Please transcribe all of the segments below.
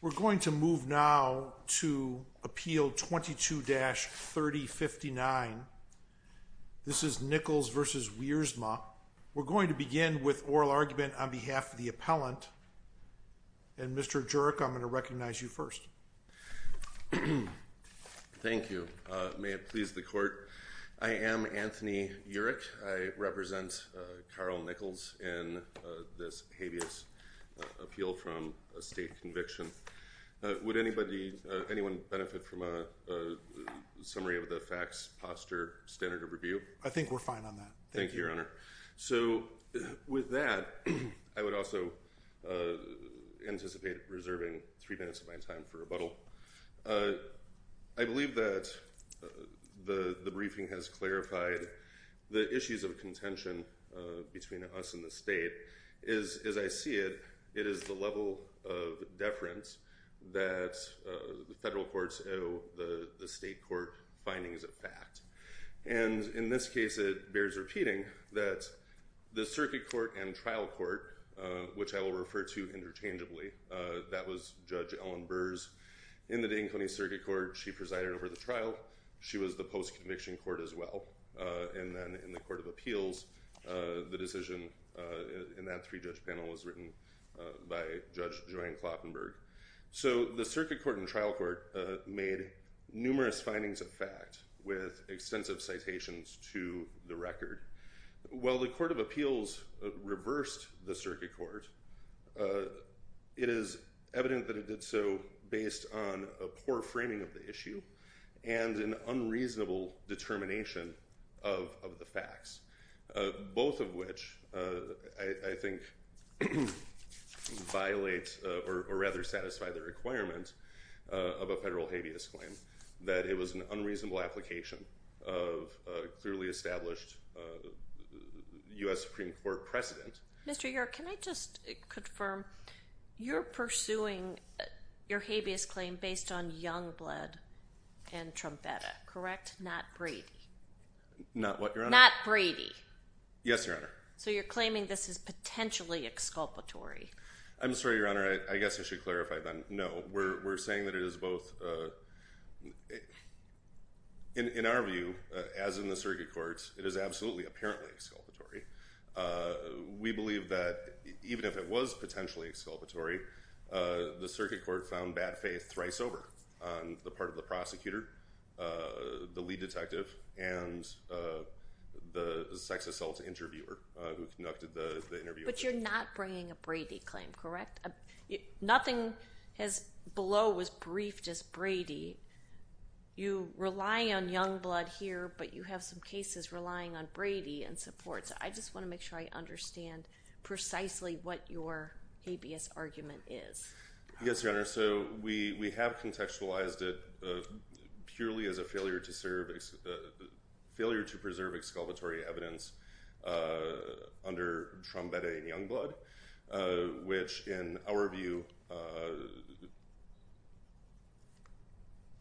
We're going to move now to appeal 22-3059. This is Nichols v. Wiersma. We're going to begin with oral argument on behalf of the appellant. And Mr. Jurek, I'm going to recognize you first. Thank you. May it please the court. I am Anthony Jurek. I represent Carl Nichols in this habeas appeal from a state conviction. Would anybody, anyone benefit from a summary of the facts, posture, standard of review? I think we're fine on that. Thank you, Your Honor. So with that, I would also anticipate reserving three minutes of my time for rebuttal. I believe that the briefing has clarified the issues of contention between us and the state is, as I see it, it is the level of deference that the federal courts owe the state court findings of fact. And in this case, it bears repeating that the circuit court and trial court, which I will refer to interchangeably, that was Judge Ellen Burrs in the Dayton County Circuit Court. She was the post-conviction court as well. And then in the Court of Appeals, the decision in that three-judge panel was written by Judge Joanne Kloppenburg. So the circuit court and trial court made numerous findings of fact with extensive citations to the record. While the Court of Appeals reversed the circuit court, it is evident that it did so based on a unreasonable determination of the facts, both of which I think violate or rather satisfy the requirement of a federal habeas claim, that it was an unreasonable application of a clearly established U.S. Supreme Court precedent. Mr. York, can I just confirm, you're pursuing your habeas claim based on Youngblood and Trumpetta, correct? Not Brady? Not what, Your Honor? Not Brady? Yes, Your Honor. So you're claiming this is potentially exculpatory? I'm sorry, Your Honor. I guess I should clarify then. No, we're saying that it is both. In our view, as in the circuit courts, it is absolutely apparently exculpatory. We believe that even if it was potentially exculpatory, the circuit court found bad faith thrice over on the part of the prosecutor, the lead detective, and the sex assault interviewer who conducted the interview. But you're not bringing a Brady claim, correct? Nothing below was briefed as Brady. You rely on Youngblood here, but you have some cases relying on Brady and support. So I just want to make sure I understand precisely what your habeas argument is. Yes, Your Honor. So we have contextualized it purely as a failure to preserve exculpatory evidence under Trumpetta and Youngblood, which in our view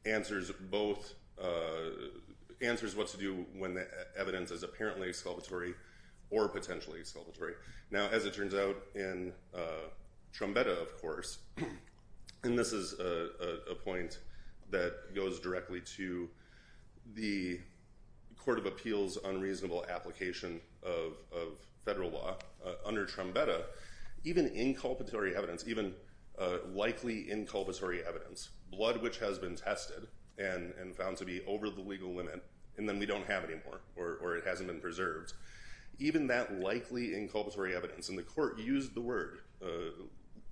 answers what to do when the evidence is apparently exculpatory or potentially exculpatory. Now, as it turns out in Trumpetta, of course, and this is a point that goes directly to the Court of Appeals' unreasonable application of federal law, under Trumpetta, even inculpatory evidence, even likely inculpatory evidence, blood which has been tested and found to be over the legal limit, and then we don't have or it hasn't been preserved, even that likely inculpatory evidence, and the Court used the word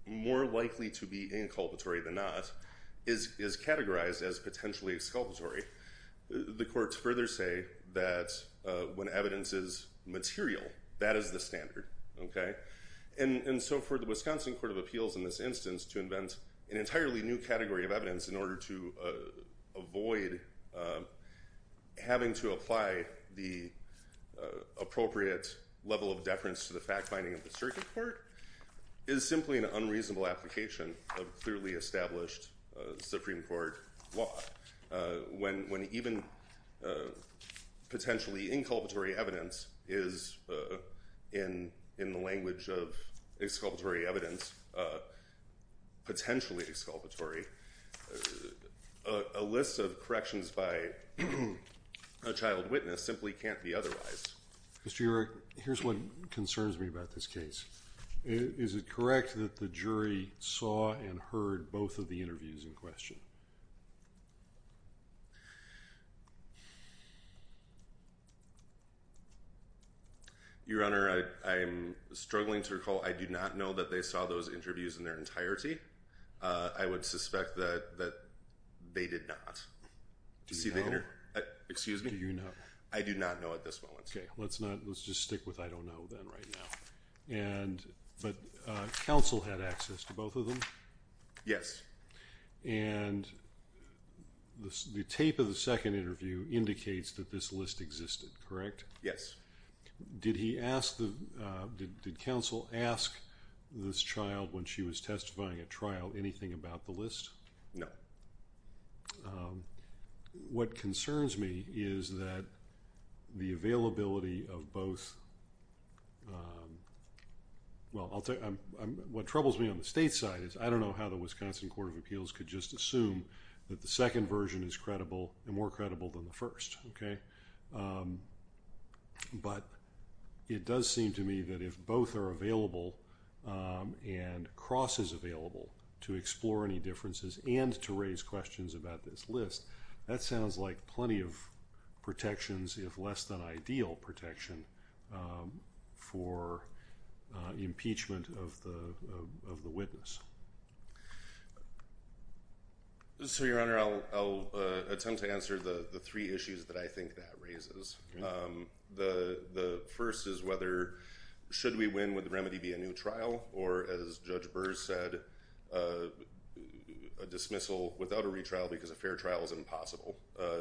more likely to be inculpatory than not, is categorized as potentially exculpatory. The Courts further say that when evidence is material, that is the standard. And so for the Wisconsin Court of Appeals in this instance to invent an entirely new category of evidence in the appropriate level of deference to the fact-finding of the circuit court is simply an unreasonable application of clearly established Supreme Court law. When even potentially inculpatory evidence is, in the language of exculpatory evidence, a potentially exculpatory, a list of corrections by a child witness simply can't be otherwise. Mr. York, here's what concerns me about this case. Is it correct that the jury saw and heard both of the interviews in question? Your Honor, I'm struggling to recall. I do not know that they saw those interviews in their entirety. I would suspect that they did not. Do you know? Excuse me? Do you know? I do not know at this moment. Okay, let's not, let's just stick with I don't know then right now. And, but, counsel had access to both of them? Yes. And, the tape of the second interview indicates that this list existed, correct? Yes. Did he ask the, did counsel ask this child when she was testifying at trial anything about the list? No. What concerns me is that the availability of both, well, I'll tell you, what troubles me on the state side is I don't know how the Wisconsin Court of Appeals could just assume that the second version is credible and more credible than the first, okay? But, it does seem to me that if both are available and crosses available to explore any differences and to raise questions about this list, that sounds like plenty of protections, if less than ideal protection, for impeachment of the witness. So, your honor, I'll attempt to answer the three issues that I think that raises. The first is whether, should we win, would the remedy be a new trial? Or, as Judge Burr said, a dismissal without a retrial because a fair trial is impossible.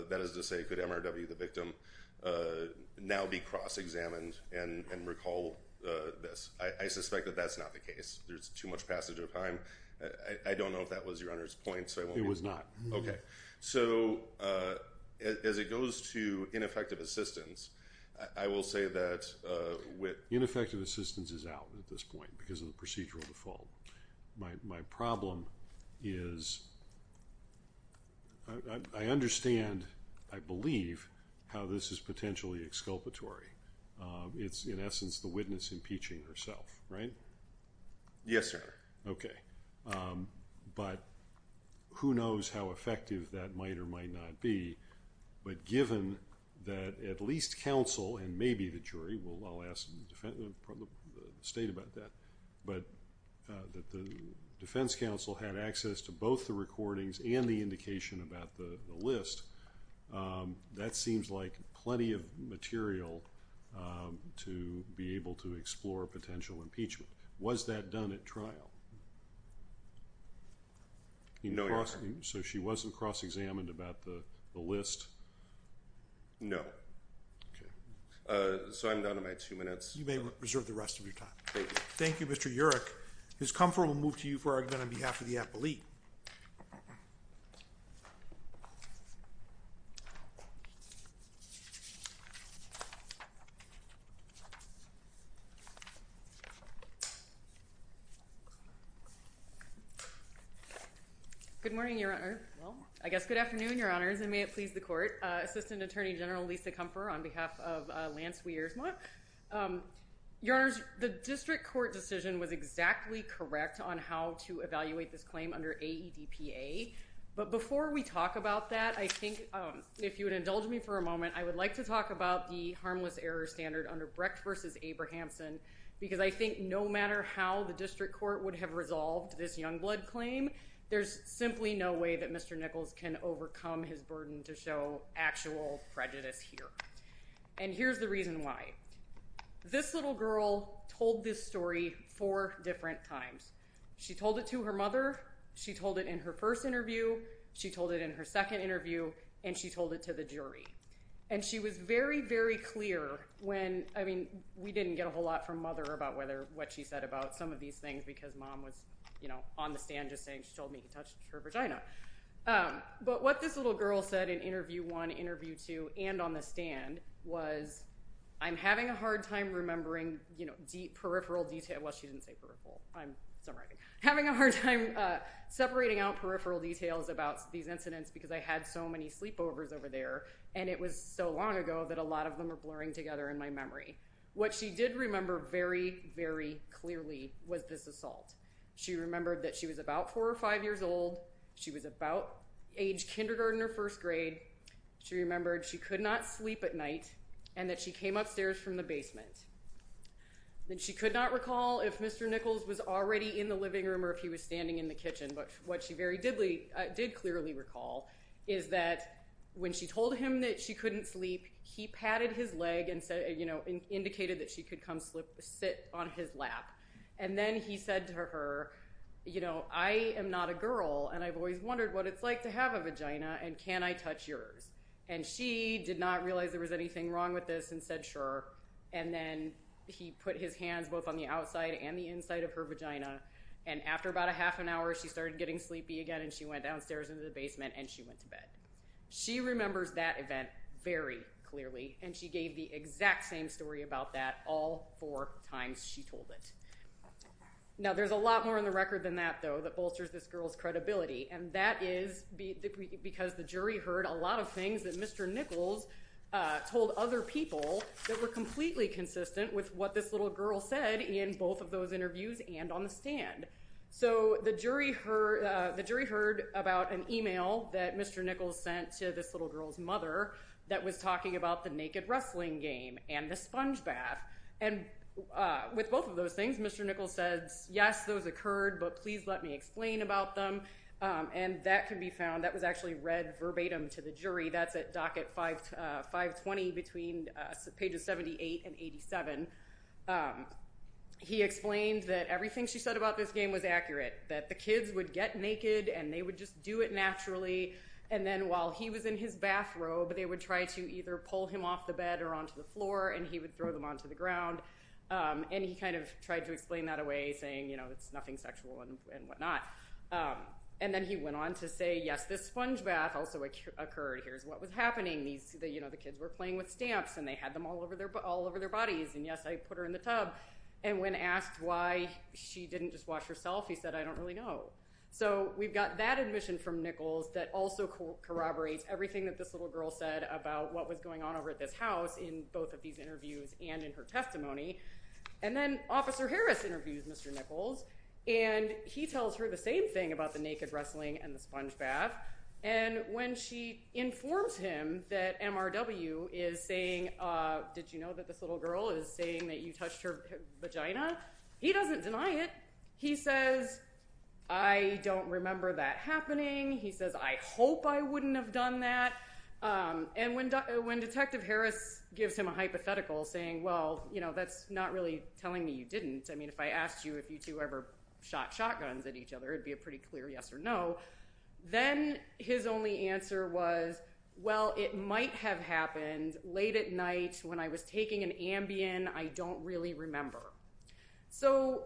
That is to say, could MRW, the victim, now be cross-examined and recall this? I suspect that that's not the case. There's too much passage of time. I don't know if that was your honor's point. It was not. Okay. So, as it goes to ineffective assistance, I will say that with... Ineffective assistance is out at this point because of the procedural default. My problem is, I understand, I believe, how this is potentially exculpatory. It's, in essence, the witness impeaching herself, right? Yes, sir. Okay. But who knows how effective that might or might not be, but given that at least counsel, and maybe the jury, I'll ask the state about that, but that the defense counsel had access to both the recordings and the indication about the list, that seems like plenty of material to be able to explore potential impeachment. Was that done at trial? No, your honor. So, she wasn't cross-examined about the list? No. Okay. So, I'm done in my two minutes. You may reserve the rest of your time. Thank you. Thank you, Mr. Urich. Ms. Comfort, we'll move to you for argument on behalf of the appellee. Good morning, your honor. I guess good afternoon, your honors, and may it please the court. Assistant Attorney General Lisa Comfort on behalf of Lance Weiersma. Your honors, the district court decision was exactly correct on how to evaluate this claim under AEDPA, but before we talk about that, I think, if you would indulge me for a moment, I would like to talk about the harmless error standard under Brecht versus Abrahamson, because I think no matter how the district court would have resolved this young blood claim, there's simply no way that Mr. Nichols can overcome his burden to show actual prejudice here, and here's the reason why. This little girl told this story four different times. She told it to her mother. She told it in her first interview. She told it in her second interview, and she told it to the jury, and she was very, very clear when, I mean, we didn't get a whole lot from mother about whether what she said about some of these things because mom was, you know, on the stand just saying she told me he touched her vagina, but what this little girl said in interview one, interview two, and on the stand was I'm having a hard time remembering, you know, deep peripheral detail. Well, she didn't say peripheral. I'm summarizing. Having a hard time separating out peripheral details about these incidents because I had so many sleepovers over there, and it was so long ago that a lot of them are blurring together in my memory. What she did remember very, very clearly was this assault. She remembered that she was about four or five years old. She was about age kindergarten or first grade. She remembered she could not sleep at night, and that she came upstairs from the basement. Then she could not recall if Mr. Nichols was already in the living room or if he was standing in the kitchen, but what she very did clearly recall is that when she told him that she couldn't sleep, he patted his leg and said, you know, indicated that she could come sit on his lap, and then he said to her, you know, I am not a girl, and I've always wondered what it's like to have a vagina, and can I touch yours? And she did not realize there was anything wrong with this and said sure, and then he put his hands both on the outside and the inside of her vagina, and after about a half an hour, she started getting sleepy again, and she went downstairs into the basement, and she went to bed. She remembers that event very clearly, and she gave the exact same story about that all four times she told it. Now there's a lot more in the record than that, though, that bolsters this girl's credibility, and that is because the jury heard a lot of things that Mr. Nichols told other people that were completely consistent with what this little girl said in both of those interviews and on the stand. So the jury heard about an email that Mr. Nichols sent to this little girl's mother that was talking about the naked wrestling game and the sponge bath, and with both of those things, Mr. Nichols says, yes, those occurred, but please let me explain about them, and that can be found. That was actually read verbatim to the jury. That's at docket 520 between pages 78 and 87. He explained that everything she said about this game was accurate, that the kids would get naked, and they would just do it naturally, and then while he was in his bathrobe, they would try to either pull him off the bed or onto the floor, and he would throw them onto the ground, and he kind of tried to explain that away, saying, you know, it's nothing sexual and whatnot, and then he went on to say, yes, this sponge bath also occurred. Here's what was happening. These, you know, the kids were playing with stamps, and they had them all over their bodies, and yes, I put her in the tub, and when asked why she didn't just wash herself, he said, I don't really know. So we've got that admission from Nichols that also corroborates everything that this little girl said about what was going on over at this house in both of these interviews and in her testimony, and then Officer Harris interviews Mr. Nichols, and he tells her the same thing about the naked wrestling and the sponge bath, and when she informs him that MRW is saying, did you know that this little girl is saying that you touched her vagina? He doesn't deny it. He says, I don't remember that happening. He says, I hope I wouldn't have done that, and when Detective Harris gives him a hypothetical saying, well, you know, that's not really telling me you didn't. I mean, if I asked you if you two ever shot shotguns at each other, it'd be a pretty clear yes or no. Then his only answer was, well, it might have happened late at night when I was taking an Ambien. I don't really remember. So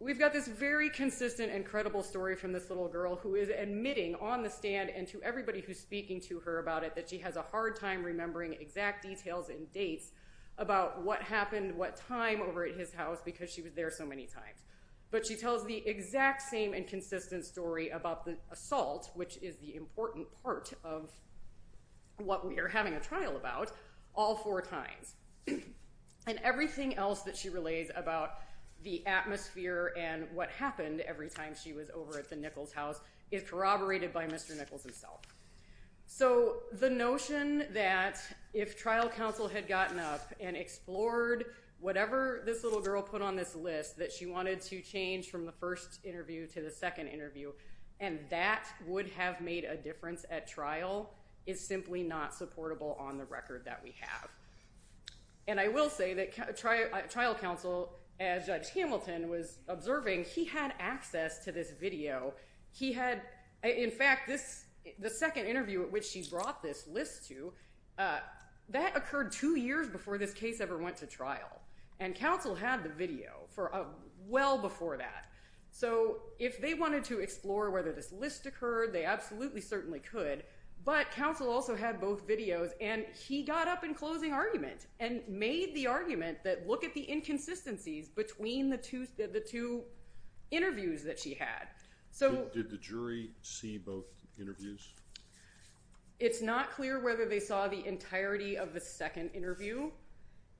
we've got this very consistent and credible story from this little girl who is admitting on the stand and to everybody who's speaking to her about it that she has a hard time remembering exact details and dates about what happened what time over at his house because she was there so many times, but she tells the exact same and consistent story about the assault, which is the important part of what we are having a trial about all four times, and everything else that she relays about the atmosphere and what happened every time she was over at the Nichols house is corroborated by Mr. Nichols himself. So the notion that if trial counsel had gotten up and explored whatever this little girl put on this list that she wanted to change from the first interview to the second interview and that would have made a difference at trial is simply not supportable on the record that we have. And I will say that trial counsel, as Judge Hamilton was observing, he had access to this video. He had, in fact, the second interview at which she brought this list to, that occurred two years before this case ever went to trial, and counsel had the video for well before that. So if they wanted to explore whether this list occurred, they absolutely certainly could, but counsel also had both videos and he got up in inconsistencies between the two interviews that she had. So... Did the jury see both interviews? It's not clear whether they saw the entirety of the second interview.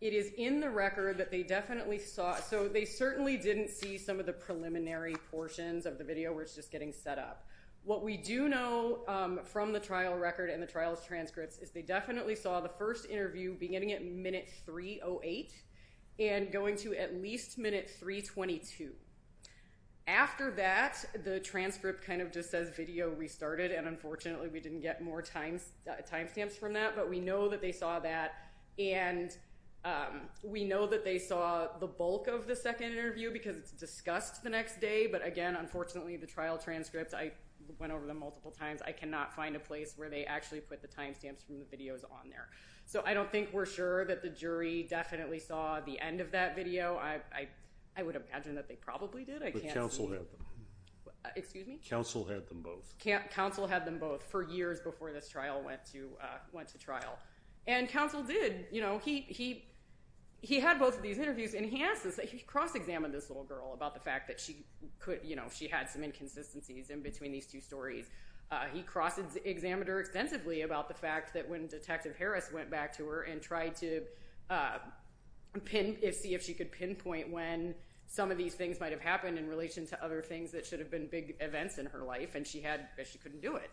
It is in the record that they definitely saw, so they certainly didn't see some of the preliminary portions of the video where it's just getting set up. What we do know from the trial record and the trial's transcripts is they definitely saw the first interview beginning at minute 308 and going to at least minute 322. After that, the transcript kind of just says video restarted and unfortunately we didn't get more timestamps from that, but we know that they saw that and we know that they saw the bulk of the second interview because it's discussed the next day, but again, unfortunately, the trial transcripts, I went over them multiple times, I cannot find a place where they actually put the videos on there. So I don't think we're sure that the jury definitely saw the end of that video. I would imagine that they probably did. But counsel had them. Excuse me? Counsel had them both. Counsel had them both for years before this trial went to trial. And counsel did, you know, he had both of these interviews and he asked us, he cross-examined this little girl about the fact that she had some inconsistencies in between these two stories. He cross-examined her extensively about the fact that when Detective Harris went back to her and tried to pin, see if she could pinpoint when some of these things might have happened in relation to other things that should have been big events in her life and she had, she couldn't do it.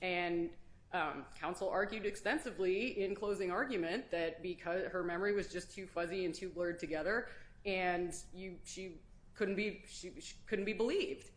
And counsel argued extensively in closing argument that because her memory was just too fuzzy and too blurred together and she couldn't be, she couldn't be believed.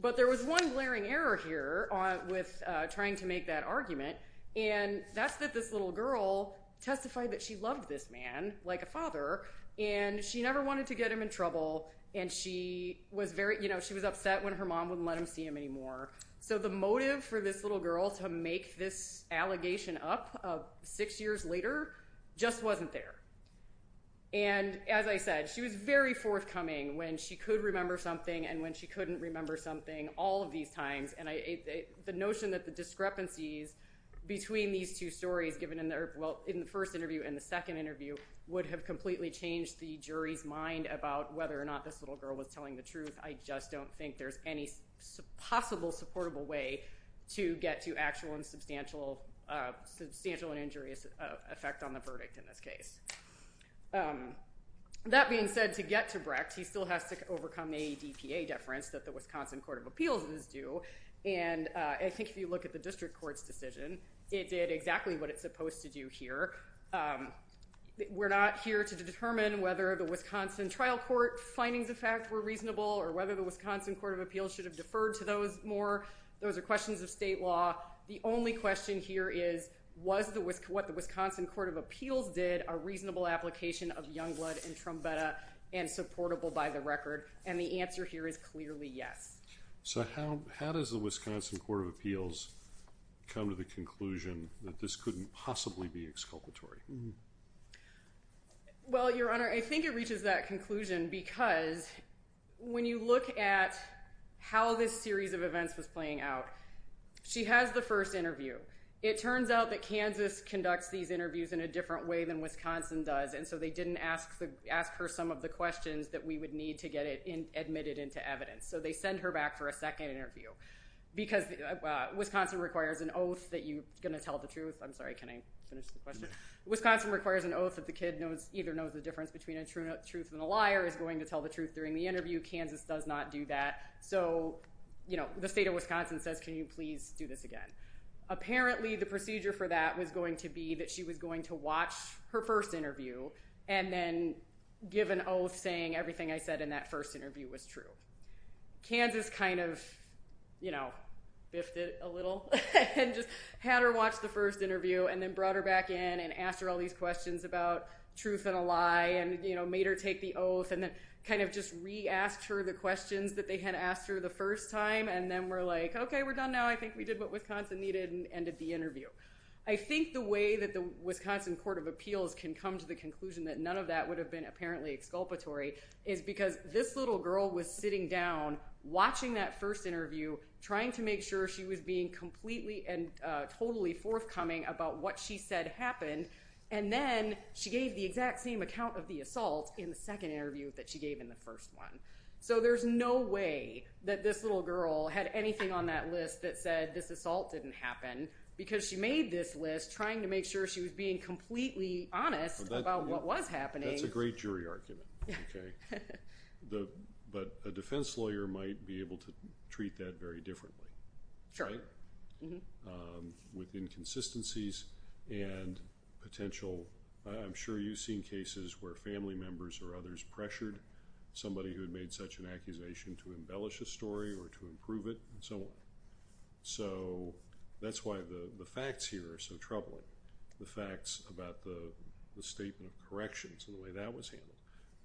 But there was one glaring error here with trying to make that argument. And that's that this little girl testified that she loved this man like a father and she never wanted to get him in trouble. And she was very, you know, she was upset when her mom wouldn't let him see him anymore. So the motive for this little girl to make this allegation up six years later just wasn't there. And as I said, she was very forthcoming when she could remember something and when she couldn't remember something all of these times. And the notion that the discrepancies between these two stories given in their, well in the first interview and the second interview would have completely changed the jury's mind about whether or not this little girl was telling the truth. I just don't think there's any possible supportable way to get to actual and substantial, substantial and injurious effect on the verdict in this case. That being said, to get to Brecht he still has to overcome a DPA deference that the Wisconsin Court of Appeals is due. And I think if you look at the district court's decision, it did exactly what it's supposed to do here. We're not here to determine whether the Wisconsin Trial Court findings of fact were reasonable or whether the Wisconsin Court of Appeals should have deferred to those more. Those are questions of state law. The only question here is was what the Wisconsin Court of Appeals did a reasonable application of young blood and trumpetta and supportable by the record? And the answer here is clearly yes. So how, how does the Wisconsin Court of Appeals come to the conclusion that this couldn't possibly be exculpatory? Well your honor, I think it reaches that conclusion because when you look at how this series of events was playing out, she has the first interview. It turns out that Kansas conducts these interviews in a different way than Wisconsin does and so they didn't ask her some of the questions that we would need to get it admitted into evidence. So they send her back for a second interview because Wisconsin requires an oath that you're going to tell the truth. I'm sorry can I finish the question? Wisconsin requires an oath that the kid either knows the difference between a truth and a liar is going to tell the truth during the interview. Kansas does not do that. So you know the state of Wisconsin says can you please do this again? Apparently the procedure for that was going to be that she was going to watch her first interview and then give an oath saying everything I said in that first interview was true. Kansas kind of you know biffed it a little and just had her watch the first interview and then brought her back in and asked her all these questions about truth and a lie and you know made her take the oath and then kind of just re-asked her the questions that they had asked her the first time and then were like okay we're done now I think we did what Wisconsin needed and ended the interview. I think the way that the Wisconsin Court of Appeals can come to the conclusion that none of that would have been apparently exculpatory is because this little girl was sitting down watching that first interview trying to make sure she was being completely and totally forthcoming about what she said happened and then she gave the exact same account of the assault in the second interview that she gave in the first one. So there's no way that this little girl had anything on that list that said this assault didn't happen because she made this list trying to make sure she was being completely honest about what was happening. That's a great jury argument okay. But a defense lawyer might be able to treat that very differently. Sure. With inconsistencies and potential I'm sure you've seen cases where family members or others pressured somebody who had made such an accusation to embellish a story or to improve it and so on. So that's why the facts here are so troubling. The facts about the statement of corrections and the way that was handled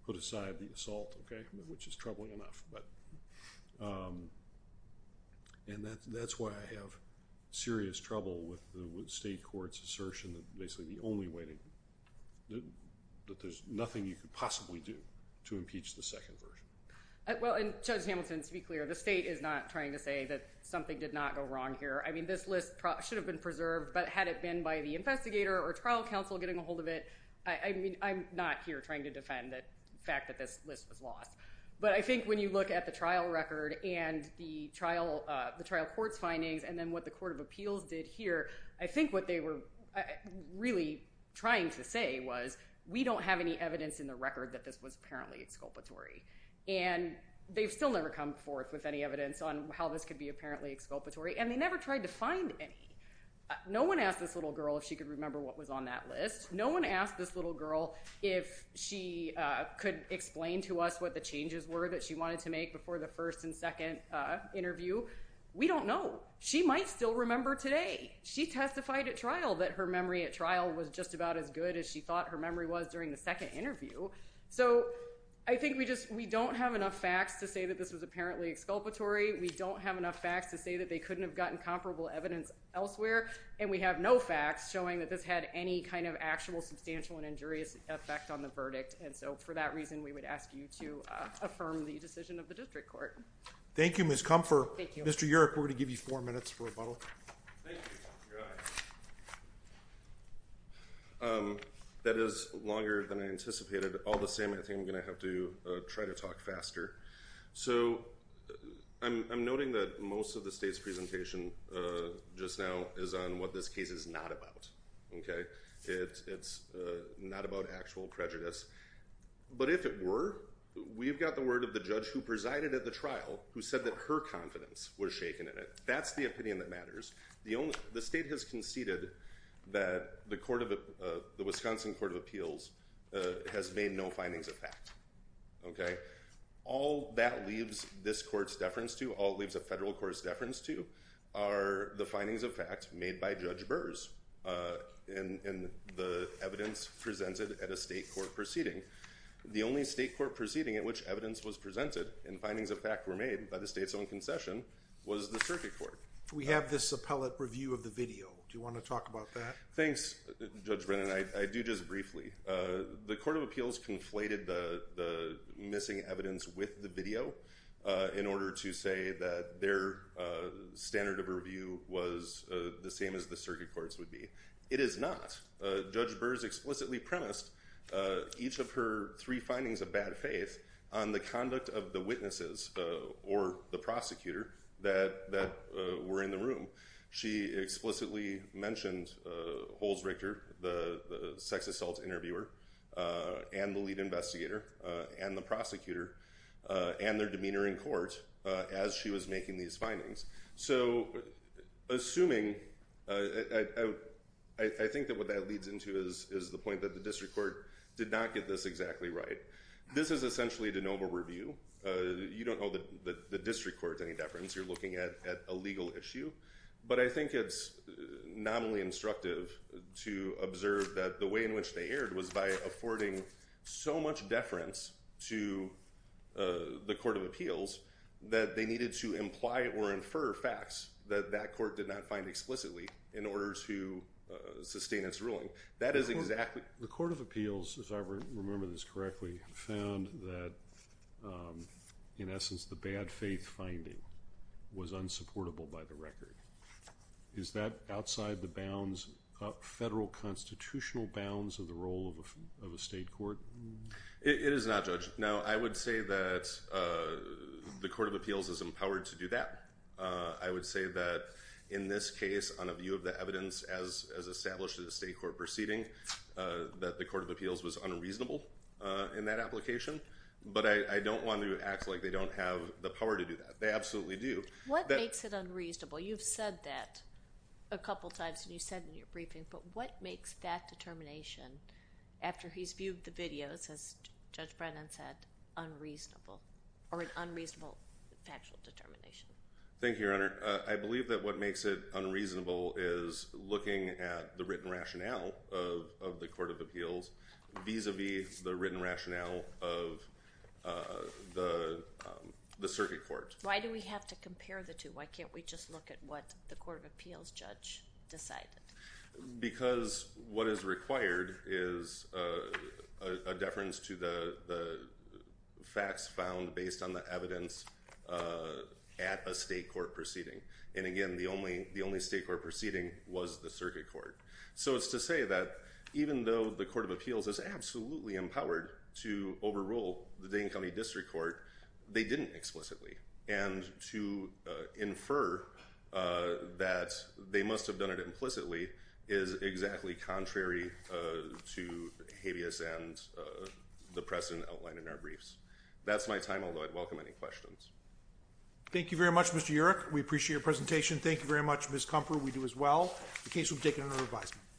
put aside the assault okay which is troubling enough. And that's why I have serious trouble with the state court's assertion that basically the only way that there's nothing you could possibly do to impeach the second version. Well and Judge something did not go wrong here. I mean this list should have been preserved but had it been by the investigator or trial counsel getting a hold of it. I mean I'm not here trying to defend that fact that this list was lost. But I think when you look at the trial record and the trial court's findings and then what the court of appeals did here I think what they were really trying to say was we don't have any evidence in the record that this was apparently exculpatory and they've still never come forth with any evidence on how this could be apparently exculpatory and they never tried to find any. No one asked this little girl if she could remember what was on that list. No one asked this little girl if she could explain to us what the changes were that she wanted to make before the first and second interview. We don't know. She might still remember today. She testified at trial that her memory at trial was just about as good as she thought her memory was during the second interview. We don't have enough facts to say that they couldn't have gotten comparable evidence elsewhere and we have no facts showing that this had any kind of actual substantial and injurious effect on the verdict and so for that reason we would ask you to affirm the decision of the district court. Thank you Ms. Kumpfer. Thank you. Mr. Yerrick we're going to give you four minutes for rebuttal. Thank you. That is longer than I anticipated. All the same I think I'm going to have to try to talk faster. So I'm noting that most of the state's presentation just now is on what this case is not about. It's not about actual prejudice but if it were we've got the word of the judge who presided at the trial who said that her confidence was shaken in it. That's the opinion that matters. The state has conceded that the Wisconsin Court of Appeals has made no that leaves this court's deference to all it leaves a federal court's deference to are the findings of fact made by Judge Burrs and the evidence presented at a state court proceeding. The only state court proceeding at which evidence was presented and findings of fact were made by the state's own concession was the circuit court. We have this appellate review of the video. Do you want to talk about that? Thanks Judge Brennan. I do just briefly. The missing evidence with the video in order to say that their standard of review was the same as the circuit courts would be. It is not. Judge Burrs explicitly premised each of her three findings of bad faith on the conduct of the witnesses or the prosecutor that that were in the room. She explicitly mentioned Holzrichter the sex assault interviewer and the lead investigator and the prosecutor and their demeanor in court as she was making these findings. So assuming I think that what that leads into is the point that the district court did not get this exactly right. This is essentially a de novo review. You don't know that the district court's any deference. You're looking at a legal issue but I think it's nominally instructive to observe that the way in which they aired was by affording so much deference to the court of appeals that they needed to imply or infer facts that that court did not find explicitly in order to sustain its ruling. That is exactly. The court of appeals as I remember this correctly found that in essence the bad faith finding was unsupportable by the record. Is that outside the bounds of federal constitutional bounds of the role of a state court? It is not judge. Now I would say that the court of appeals is empowered to do that. I would say that in this case on a view of the evidence as established in the state court proceeding that the court of appeals was unreasonable in that application but I don't want to act like they don't have the power to do that. They absolutely do. What makes it unreasonable? You've said that a couple times and you said in your determination after he's viewed the videos as Judge Brennan said unreasonable or an unreasonable factual determination. Thank you your honor. I believe that what makes it unreasonable is looking at the written rationale of the court of appeals vis-a-vis the written rationale of the circuit court. Why do we have to compare the two? Why can't we just look at what the court of appeals judge decided? Because what is required is a deference to the facts found based on the evidence at a state court proceeding. And again the only the only state court proceeding was the circuit court. So it's to say that even though the court of appeals is absolutely empowered to overrule the Dane County District Court they didn't explicitly and to infer that they must have done it implicitly is exactly contrary to habeas and the precedent outlined in our briefs. That's my time although I'd welcome any questions. Thank you very much Mr. Urich. We appreciate your presentation. Thank you very much Ms. Comfort. We do as well. The case will be taken under revision.